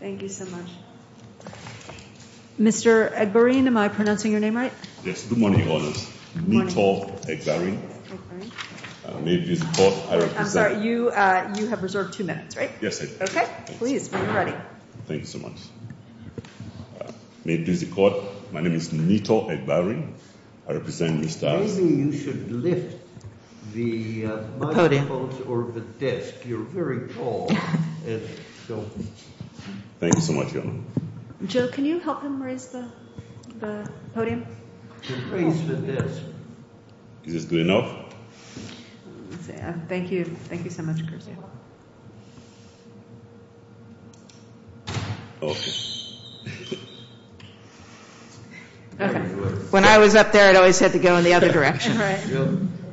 Thank you so much. Mr. Egberin, am I pronouncing your name right? Good morning, Your Honor. Good morning. Nitor Egberin. I'm sorry, you have reserved two minutes, right? Yes, I do. Okay. Please, when you're ready. Thank you so much. May it please the court, my name is Nitor Egberin, I represent Mr. Maybe you should lift the microphone or the desk, you're very tall. Thank you so much, Your Honor. Joe, can you help him raise the podium? Raise the desk. Is this good enough? Thank you. Thank you so much, Garcia. When I was up there, I always had to go in the other direction.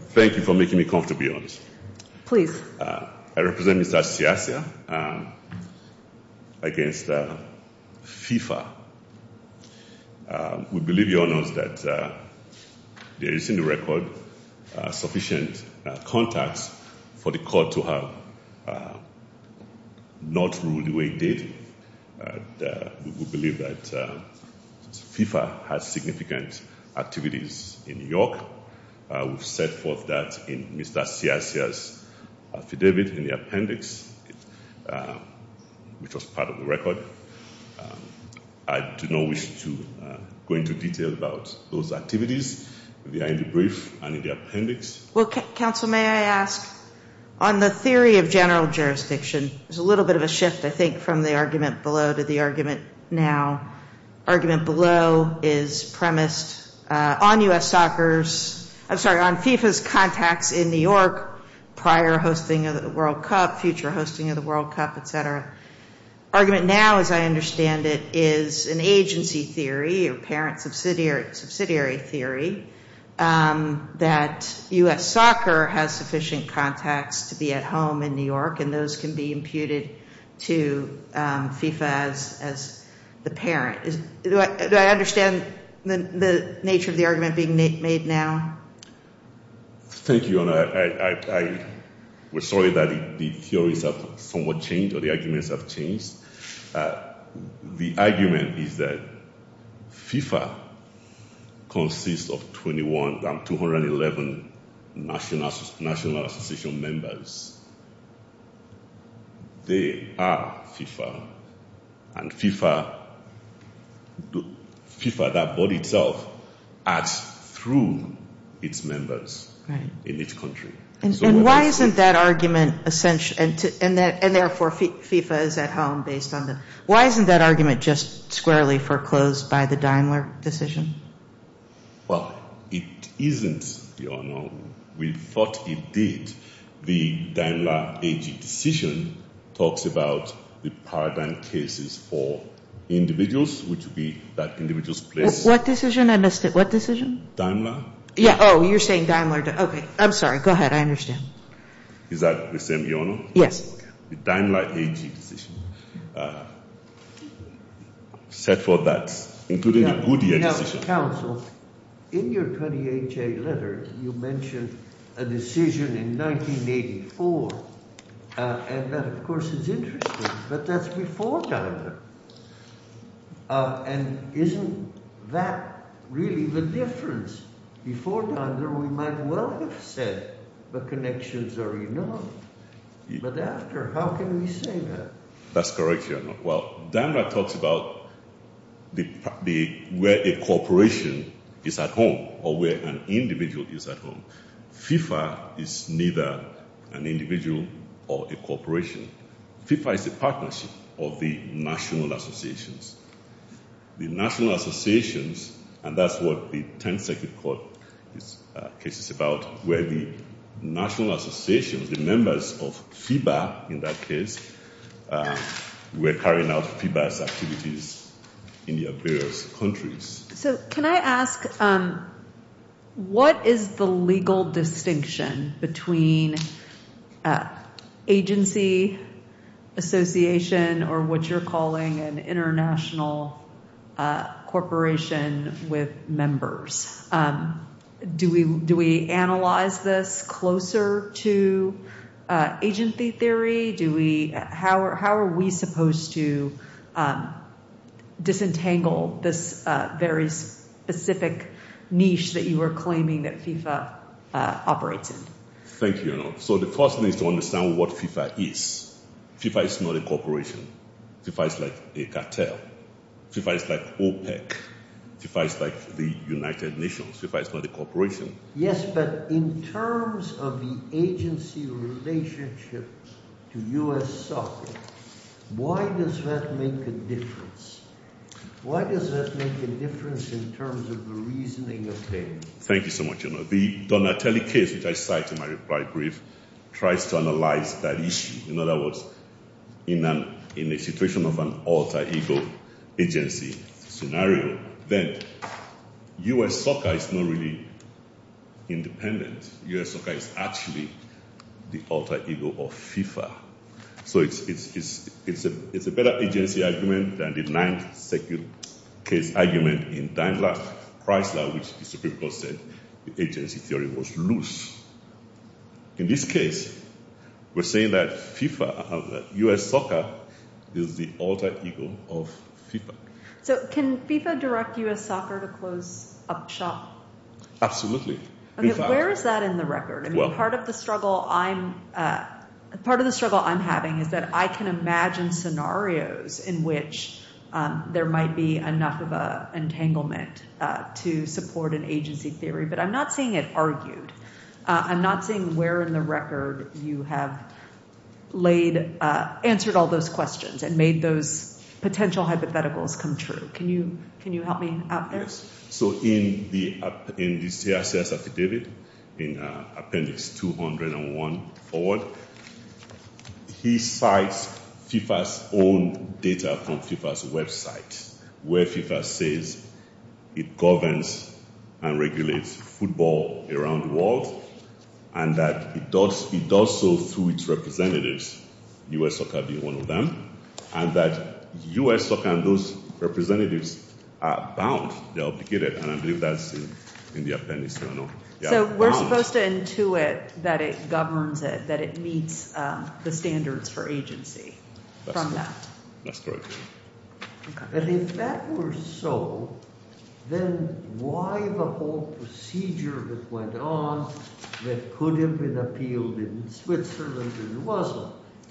Thank you for making me comfortable, Your Honor. Please. I represent Mr. Siasia against FIFA. We believe, Your Honor, that there is in the record sufficient context for the court to have not ruled the way it did. We believe that FIFA has significant activities in New York. We've set forth that in Mr. Siasia's affidavit in the appendix, which was part of the record. I do not wish to go into detail about those activities. They are in the brief and in the appendix. Well, counsel, may I ask, on the theory of general jurisdiction, there's a little bit of a shift, I think, from the argument below to the argument now. Argument below is premised on FIFA's contacts in New York prior hosting of the World Cup, future hosting of the World Cup, et cetera. Argument now, as I understand it, is an agency theory or parent subsidiary theory that U.S. soccer has sufficient contacts to be at home in New York, and those can be imputed to FIFA as the parent. Do I understand the nature of the argument being made now? Thank you, Your Honor. We're sorry that the theories have somewhat changed or the arguments have changed. The argument is that FIFA consists of 21 of 211 national association members. They are FIFA, and FIFA, that body itself, acts through its members in each country. And why isn't that argument essential, and therefore FIFA is at home based on them? Why isn't that argument just squarely foreclosed by the Daimler decision? Well, it isn't, Your Honor. We thought it did. The Daimler AG decision talks about the paradigm cases for individuals, which would be that individuals place. What decision? Daimler. Oh, you're saying Daimler. Okay, I'm sorry. Go ahead. I understand. Is that the same, Your Honor? Yes. The Daimler AG decision said for that, including the Goodyear decision. In your 28-J letter, you mentioned a decision in 1984, and that, of course, is interesting. But that's before Daimler. And isn't that really the difference? Before Daimler, we might well have said the connections are enormous. But after, how can we say that? That's correct, Your Honor. Well, Daimler talks about where a corporation is at home or where an individual is at home. FIFA is neither an individual or a corporation. FIFA is a partnership of the national associations. The national associations, and that's what the 10th Circuit Court case is about, where the national associations, the members of FIFA in that case, were carrying out FIFA's activities in their various countries. So can I ask, what is the legal distinction between agency, association, or what you're calling an international corporation with members? Do we analyze this closer to agency theory? How are we supposed to disentangle this very specific niche that you are claiming that FIFA operates in? Thank you, Your Honor. So the first thing is to understand what FIFA is. FIFA is not a corporation. FIFA is like a cartel. FIFA is like OPEC. FIFA is like the United Nations. FIFA is not a corporation. Yes, but in terms of the agency relationship to U.S. soccer, why does that make a difference? Why does that make a difference in terms of the reasoning of things? Thank you so much, Your Honor. So the Donatelli case, which I cite in my reply brief, tries to analyze that issue. In other words, in a situation of an alter ego agency scenario, then U.S. soccer is not really independent. U.S. soccer is actually the alter ego of FIFA. So it's a better agency argument than the ninth-second case argument in Daimler-Chrysler, which the Supreme Court said the agency theory was loose. In this case, we're saying that FIFA, U.S. soccer, is the alter ego of FIFA. So can FIFA direct U.S. soccer to close up shop? Absolutely. Where is that in the record? Part of the struggle I'm having is that I can imagine scenarios in which there might be enough of an entanglement to support an agency theory, but I'm not seeing it argued. I'm not seeing where in the record you have answered all those questions and made those potential hypotheticals come true. Can you help me out there? So in the CSS affidavit in appendix 201 forward, he cites FIFA's own data from FIFA's website, where FIFA says it governs and regulates football around the world and that it does so through its representatives, U.S. soccer being one of them, and that U.S. soccer and those representatives are bound, they're obligated, and I believe that's in the appendix 200. So we're supposed to intuit that it governs it, that it meets the standards for agency from that. That's correct. But if that were so, then why the whole procedure that went on that couldn't have been appealed in Switzerland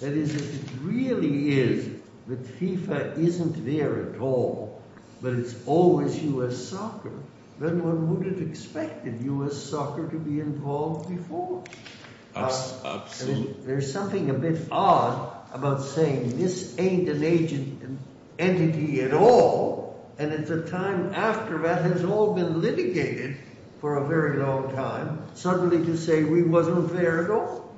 That is, if it really is that FIFA isn't there at all, but it's always U.S. soccer, then one wouldn't have expected U.S. soccer to be involved before. Absolutely. There's something a bit odd about saying this ain't an agent, an entity at all, and at the time after that has all been litigated for a very long time, suddenly to say we wasn't there at all.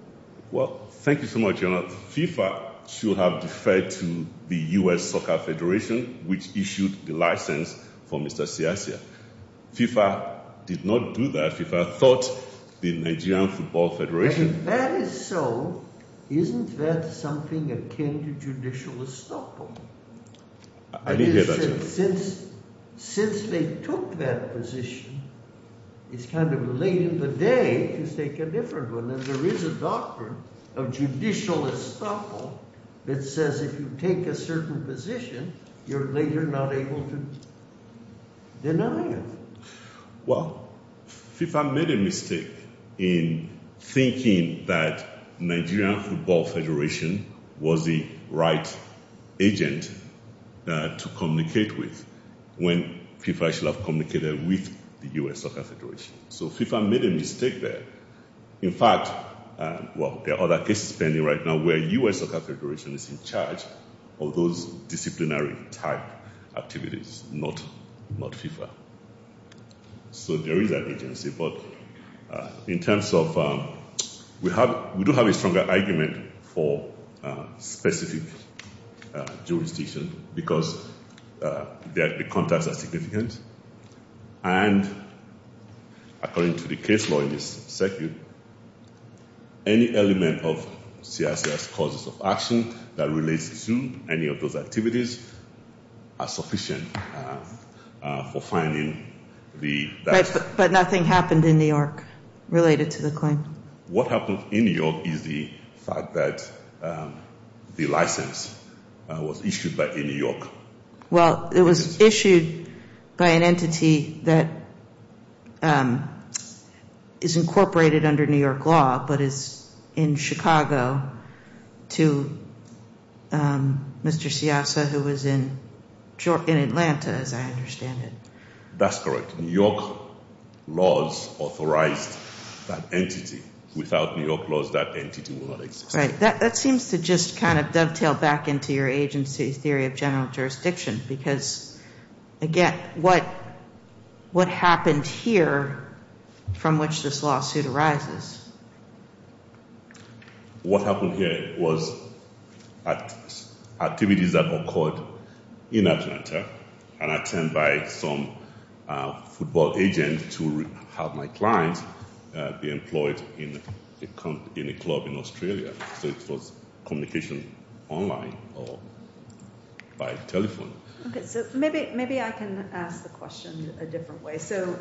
Well, thank you so much, Your Honor. FIFA should have deferred to the U.S. Soccer Federation which issued the license for Mr. Siasia. FIFA did not do that. FIFA thought the Nigerian Football Federation And if that is so, isn't that something akin to judicial estoppel? I didn't hear that, Your Honor. Since they took that position, it's kind of late in the day to take a different one, and there is a doctrine of judicial estoppel that says if you take a certain position, you're later not able to deny it. Well, FIFA made a mistake in thinking that Nigerian Football Federation was the right agent to communicate with when FIFA should have communicated with the U.S. Soccer Federation. So FIFA made a mistake there. In fact, well, there are other cases pending right now where U.S. Soccer Federation is in charge of those disciplinary type activities, not FIFA. So there is an agency, but in terms of... We do have a stronger argument for specific jurisdiction because the contacts are significant and according to the case law in this circuit, any element of CSS causes of action that relates to any of those activities are sufficient for finding the... But nothing happened in New York related to the claim. What happened in New York is the fact that the license was issued by New York. Well, it was issued by an entity that is incorporated under New York law but is in Chicago to Mr. Siasa who was in Atlanta, as I understand it. That's correct. New York laws authorized that entity. Without New York laws, that entity would not exist. Right. That seems to just kind of dovetail back into your agency's theory of general jurisdiction because, again, what happened here from which this lawsuit arises? What happened here was activities that occurred in Atlanta and I turned by some football agent to have my clients be employed in a club in Australia. So it was communication online or by telephone. Okay. So maybe I can ask the question a different way. So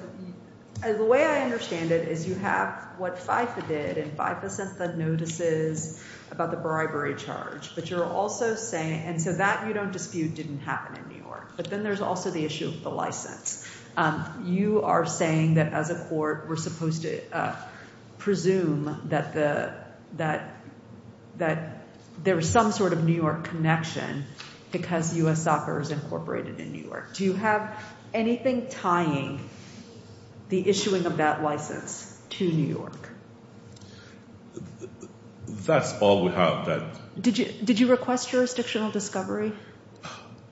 the way I understand it is you have what FIFA did and FIFA sent the notices about the bribery charge, and so that, you don't dispute, didn't happen in New York. But then there's also the issue of the license. You are saying that as a court we're supposed to presume that there is some sort of New York connection because U.S. Soccer is incorporated in New York. Do you have anything tying the issuing of that license to New York? That's all we have. Did you request jurisdictional discovery?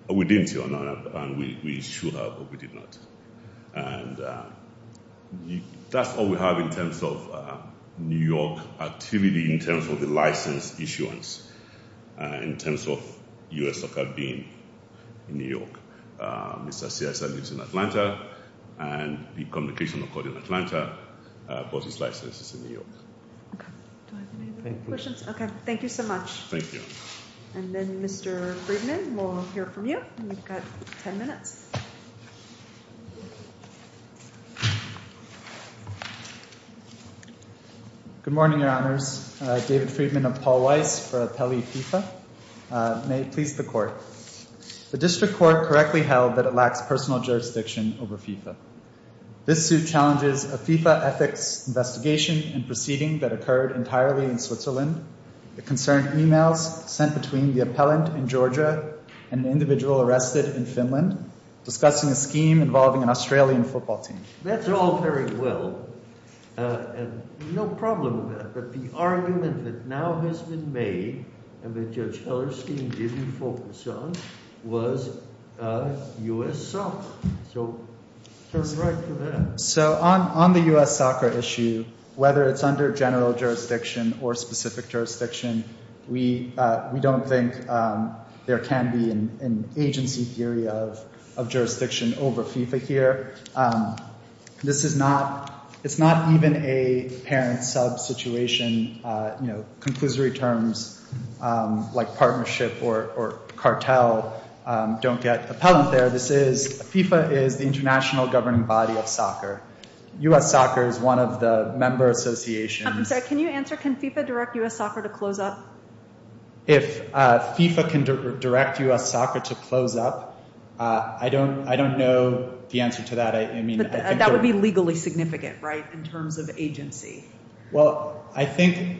We didn't, Your Honor, and we should have, but we did not. And that's all we have in terms of New York activity in terms of the license issuance, in terms of U.S. Soccer being in New York. Mr. Siasa lives in Atlanta, and the communication accord in Atlanta, but his license is in New York. Okay. Do I have any other questions? Okay. Thank you so much. Thank you. And then Mr. Friedman, we'll hear from you. You've got 10 minutes. Good morning, Your Honors. David Friedman of Paul Weiss for Appellee FIFA. May it please the Court. The district court correctly held that it lacks personal jurisdiction over FIFA. This suit challenges a FIFA ethics investigation and proceeding that occurred entirely in Switzerland. It concerned emails sent between the appellant in Georgia and an individual arrested in Finland, discussing a scheme involving an Australian football team. That's all very well. No problem with that. But the argument that now has been made and that Judge Hellerstein didn't focus on was U.S. Soccer. So just right for that. So on the U.S. Soccer issue, whether it's under general jurisdiction or specific jurisdiction, we don't think there can be an agency theory of jurisdiction over FIFA here. This is not even a parent sub-situation. Conclusory terms like partnership or cartel don't get appellant there. FIFA is the international governing body of soccer. U.S. Soccer is one of the member associations. I'm sorry, can you answer, can FIFA direct U.S. Soccer to close up? If FIFA can direct U.S. Soccer to close up, I don't know the answer to that. That would be legally significant, right, in terms of agency. Well, I think.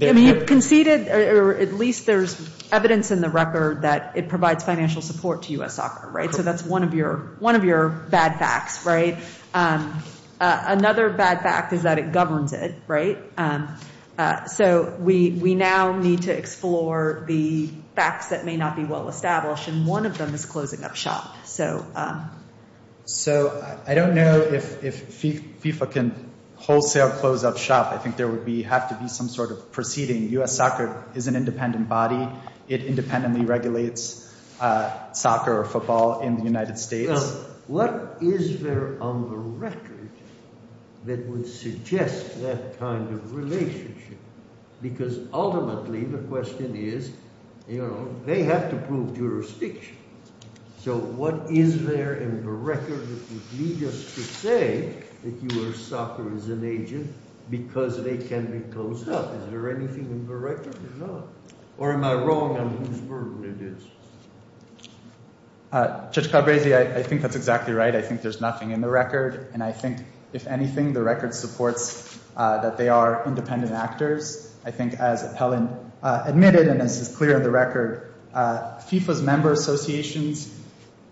I mean, you've conceded or at least there's evidence in the record that it provides financial support to U.S. Soccer, right? So that's one of your bad facts, right? Another bad fact is that it governs it, right? So we now need to explore the facts that may not be well established, and one of them is closing up shop. So I don't know if FIFA can wholesale close up shop. I think there would have to be some sort of proceeding. U.S. Soccer is an independent body. It independently regulates soccer or football in the United States. What is there on the record that would suggest that kind of relationship? Because ultimately the question is, you know, they have to prove jurisdiction. So what is there in the record that would lead us to say that U.S. Soccer is an agent because they can be closed up? Is there anything in the record or not? Or am I wrong on whose burden it is? Judge Calabresi, I think that's exactly right. I think there's nothing in the record, and I think, if anything, the record supports that they are independent actors. I think as Appellant admitted, and this is clear in the record, FIFA's member associations,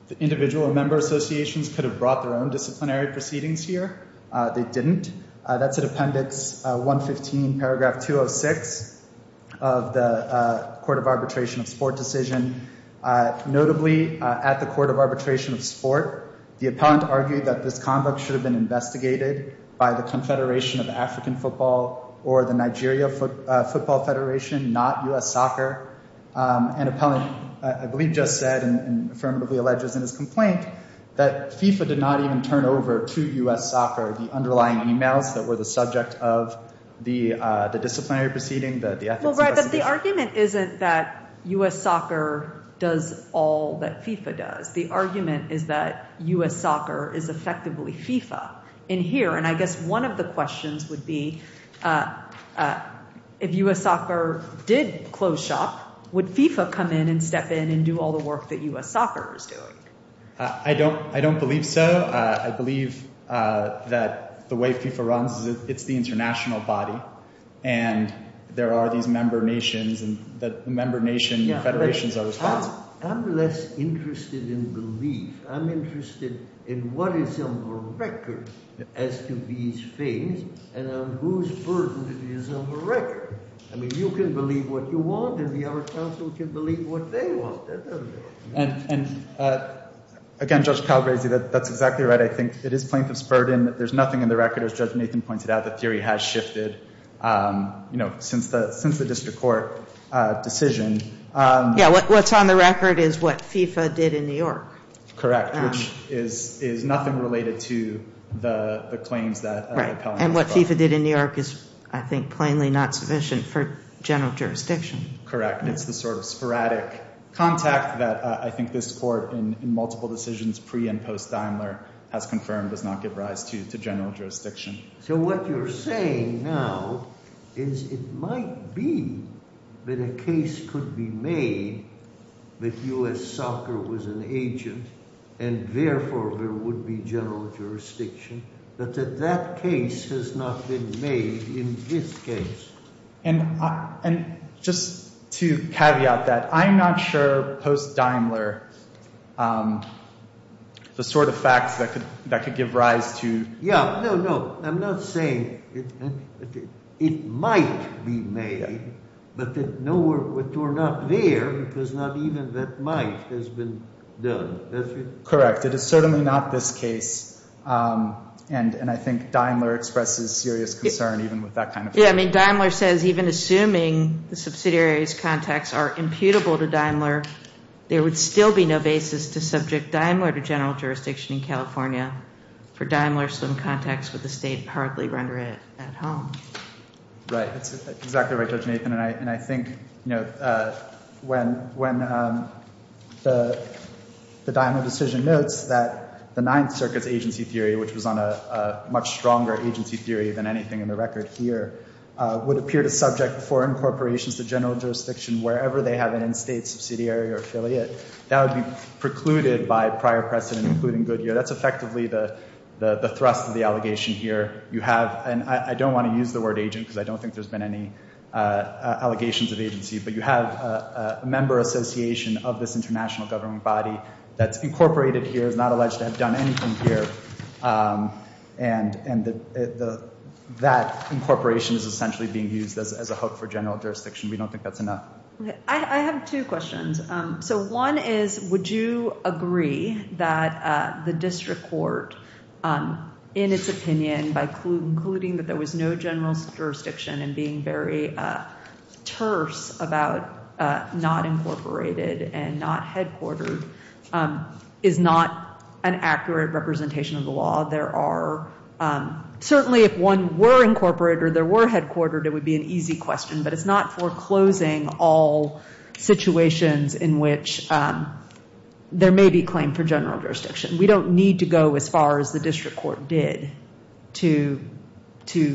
the individual member associations could have brought their own disciplinary proceedings here. They didn't. That's in Appendix 115, Paragraph 206 of the Court of Arbitration of Sport Decision. Notably, at the Court of Arbitration of Sport, the Appellant argued that this convict should have been investigated by the Confederation of African Football or the Nigeria Football Federation, not U.S. Soccer. And Appellant, I believe, just said and affirmatively alleges in his complaint that FIFA did not even turn over to U.S. Soccer the underlying emails that were the subject of the disciplinary proceeding, the ethics investigation. Well, right, but the argument isn't that U.S. Soccer does all that FIFA does. The argument is that U.S. Soccer is effectively FIFA in here. And I guess one of the questions would be if U.S. Soccer did close shop, would FIFA come in and step in and do all the work that U.S. Soccer is doing? I don't believe so. I believe that the way FIFA runs is it's the international body. And there are these member nations and the member nation federations are responsible. I'm less interested in belief. I'm interested in what is on the record as to these things and on whose burden it is on the record. I mean, you can believe what you want and our counsel can believe what they want. And again, Judge Palgrazi, that's exactly right. I think it is plaintiff's burden. There's nothing in the record, as Judge Nathan pointed out. The theory has shifted since the district court decision. Yeah, what's on the record is what FIFA did in New York. Correct, which is nothing related to the claims that the appellant brought. And what FIFA did in New York is, I think, plainly not sufficient for general jurisdiction. Correct. It's the sort of sporadic contact that I think this court in multiple decisions pre and post Daimler has confirmed does not give rise to general jurisdiction. So what you're saying now is it might be that a case could be made that U.S. soccer was an agent and therefore there would be general jurisdiction, but that that case has not been made in this case. And just to caveat that, I'm not sure post Daimler, the sort of facts that could give rise to… Yeah, no, no. I'm not saying it might be made, but no, we're not there because not even that might has been done. Correct. It is certainly not this case. And I think Daimler expresses serious concern even with that kind of… Yeah, I mean, Daimler says even assuming the subsidiary's contacts are imputable to Daimler, there would still be no basis to subject Daimler to general jurisdiction in California. For Daimler, some contacts with the State hardly render it at home. Right. That's exactly right, Judge Nathan. And I think, you know, when the Daimler decision notes that the Ninth Circuit's agency theory, which was on a much stronger agency theory than anything in the record here, would appear to subject foreign corporations to general jurisdiction wherever they have an in-State subsidiary or affiliate, that would be precluded by prior precedent, including Goodyear. That's effectively the thrust of the allegation here. You have, and I don't want to use the word agent because I don't think there's been any allegations of agency, but you have a member association of this international government body that's incorporated here, is not alleged to have done anything here. And that incorporation is essentially being used as a hook for general jurisdiction. We don't think that's enough. I have two questions. So one is, would you agree that the district court, in its opinion, by concluding that there was no general jurisdiction and being very terse about not incorporated and not headquartered, is not an accurate representation of the law? Certainly if one were incorporated or there were headquartered, it would be an easy question, but it's not foreclosing all situations in which there may be claim for general jurisdiction. We don't need to go as far as the district court did to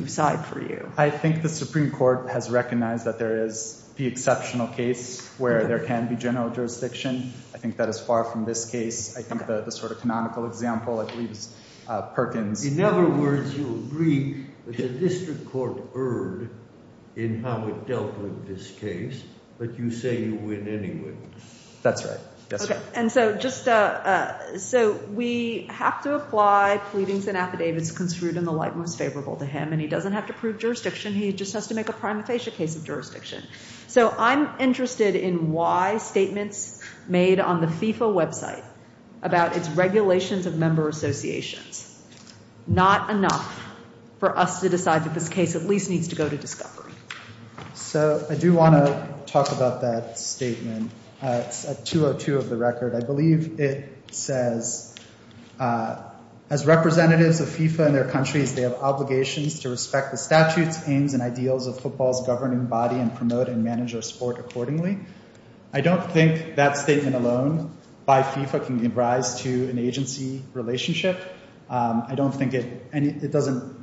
side for you. I think the Supreme Court has recognized that there is the exceptional case where there can be general jurisdiction. I think that is far from this case. I think the sort of canonical example, I believe, is Perkins. In other words, you agree that the district court erred in how it dealt with this case, but you say you win anyway. That's right. So we have to apply pleadings and affidavits construed in the light most favorable to him, and he doesn't have to prove jurisdiction. He just has to make a prima facie case of jurisdiction. So I'm interested in why statements made on the FIFA website about its regulations of member associations, not enough for us to decide that this case at least needs to go to discovery. So I do want to talk about that statement. It's at 202 of the record. I believe it says, as representatives of FIFA and their countries, they have obligations to respect the statutes, aims, and ideals of football's governing body and promote and manage our sport accordingly. I don't think that statement alone by FIFA can give rise to an agency relationship. I don't think it doesn't,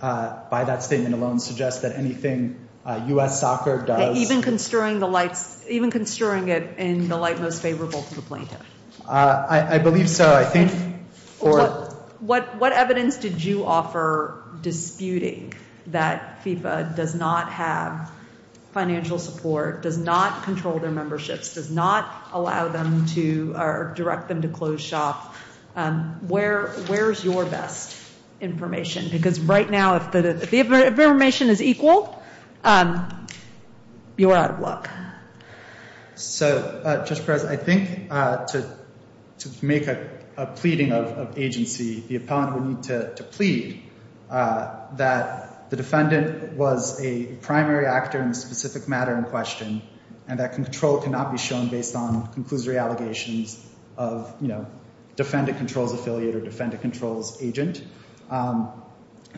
by that statement alone, suggest that anything U.S. soccer does... Even construing it in the light most favorable to the plaintiff? I believe so. I think... What evidence did you offer disputing that FIFA does not have financial support, does not control their memberships, does not allow them to direct them to closed shop? Where's your best information? Because right now, if the information is equal, you're out of luck. So, Judge Perez, I think to make a pleading of agency, the appellant would need to plead that the defendant was a primary actor in a specific matter in question and that control cannot be shown based on conclusory allegations of defendant controls affiliate or defendant controls agent.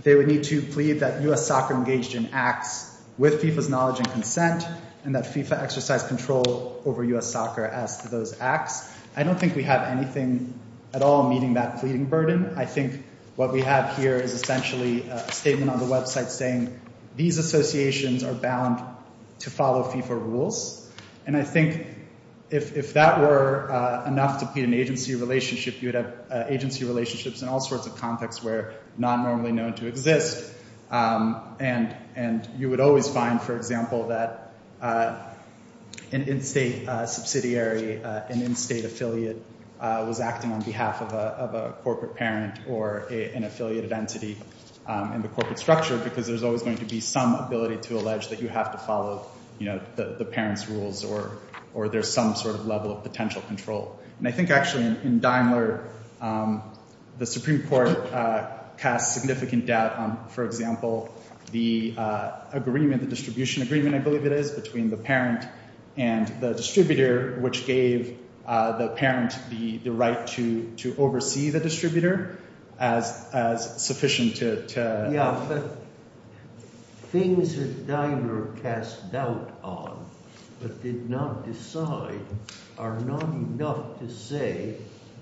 They would need to plead that U.S. soccer engaged in acts with FIFA's knowledge and consent and that FIFA exercised control over U.S. soccer as to those acts. I don't think we have anything at all meeting that pleading burden. I think what we have here is essentially a statement on the website saying these associations are bound to follow FIFA rules. And I think if that were enough to be an agency relationship, you'd have agency relationships in all sorts of contexts where not normally known to exist. And you would always find, for example, that an in-state subsidiary, an in-state affiliate was acting on behalf of a corporate parent or an affiliated entity in the corporate structure because there's always going to be some ability to allege that you have to follow the parents' rules or there's some sort of level of potential control. And I think actually in Daimler, the Supreme Court cast significant doubt on, for example, the agreement, the distribution agreement, I believe it is, between the parent and the distributor, which gave the parent the right to oversee the distributor as sufficient to—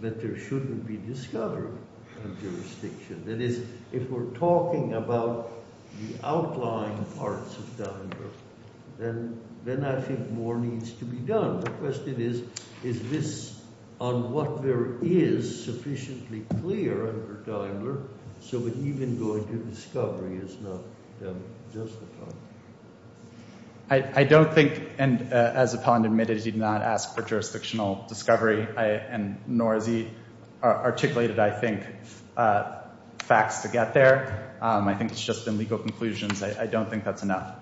that there shouldn't be discovery of jurisdiction. That is, if we're talking about the outlying parts of Daimler, then I think more needs to be done. The question is, is this, on what there is, sufficiently clear under Daimler so that even going to discovery is not justified? I don't think—and as Apollon admitted, he did not ask for jurisdictional discovery, nor has he articulated, I think, facts to get there. I think it's just been legal conclusions. I don't think that's enough.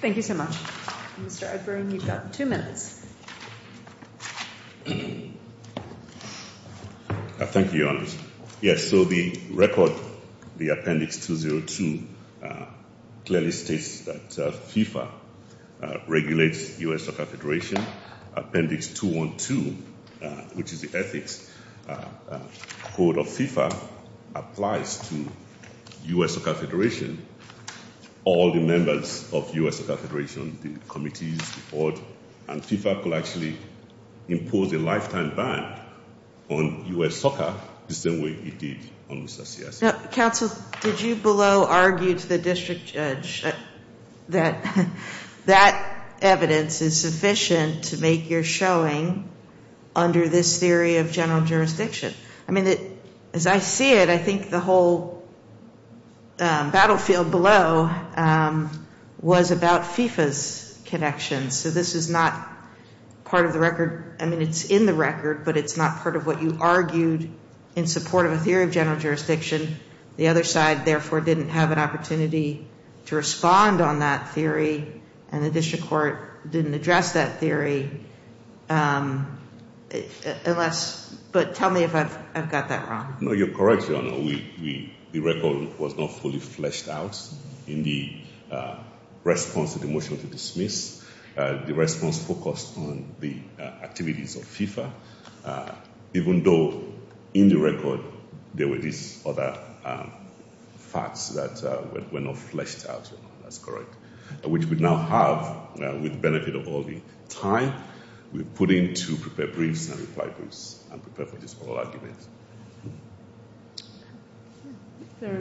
Thank you so much. Mr. Edburn, you've got two minutes. Thank you, Your Honor. Yes, so the record, the Appendix 202, clearly states that FIFA regulates U.S. suffragette duration. Appendix 212, which is the ethics code of FIFA, applies to U.S. suffragette duration. All the members of U.S. suffragette duration, the committees, the court, and FIFA could actually impose a lifetime ban on U.S. suffragette the same way it did on Mr. Ciacia. Counsel, did you below argue to the district judge that that evidence is sufficient to make your showing under this theory of general jurisdiction? I mean, as I see it, I think the whole battlefield below was about FIFA's connection. So this is not part of the record—I mean, it's in the record, but it's not part of what you argued in support of a theory of general jurisdiction. The other side, therefore, didn't have an opportunity to respond on that theory, and the district court didn't address that theory. But tell me if I've got that wrong. No, you're correct, Your Honor. The record was not fully fleshed out in the response to the motion to dismiss. The response focused on the activities of FIFA, even though in the record there were these other facts that were not fleshed out. That's correct. There are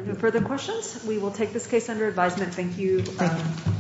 no further questions. We will take this case under advisement. Thank you.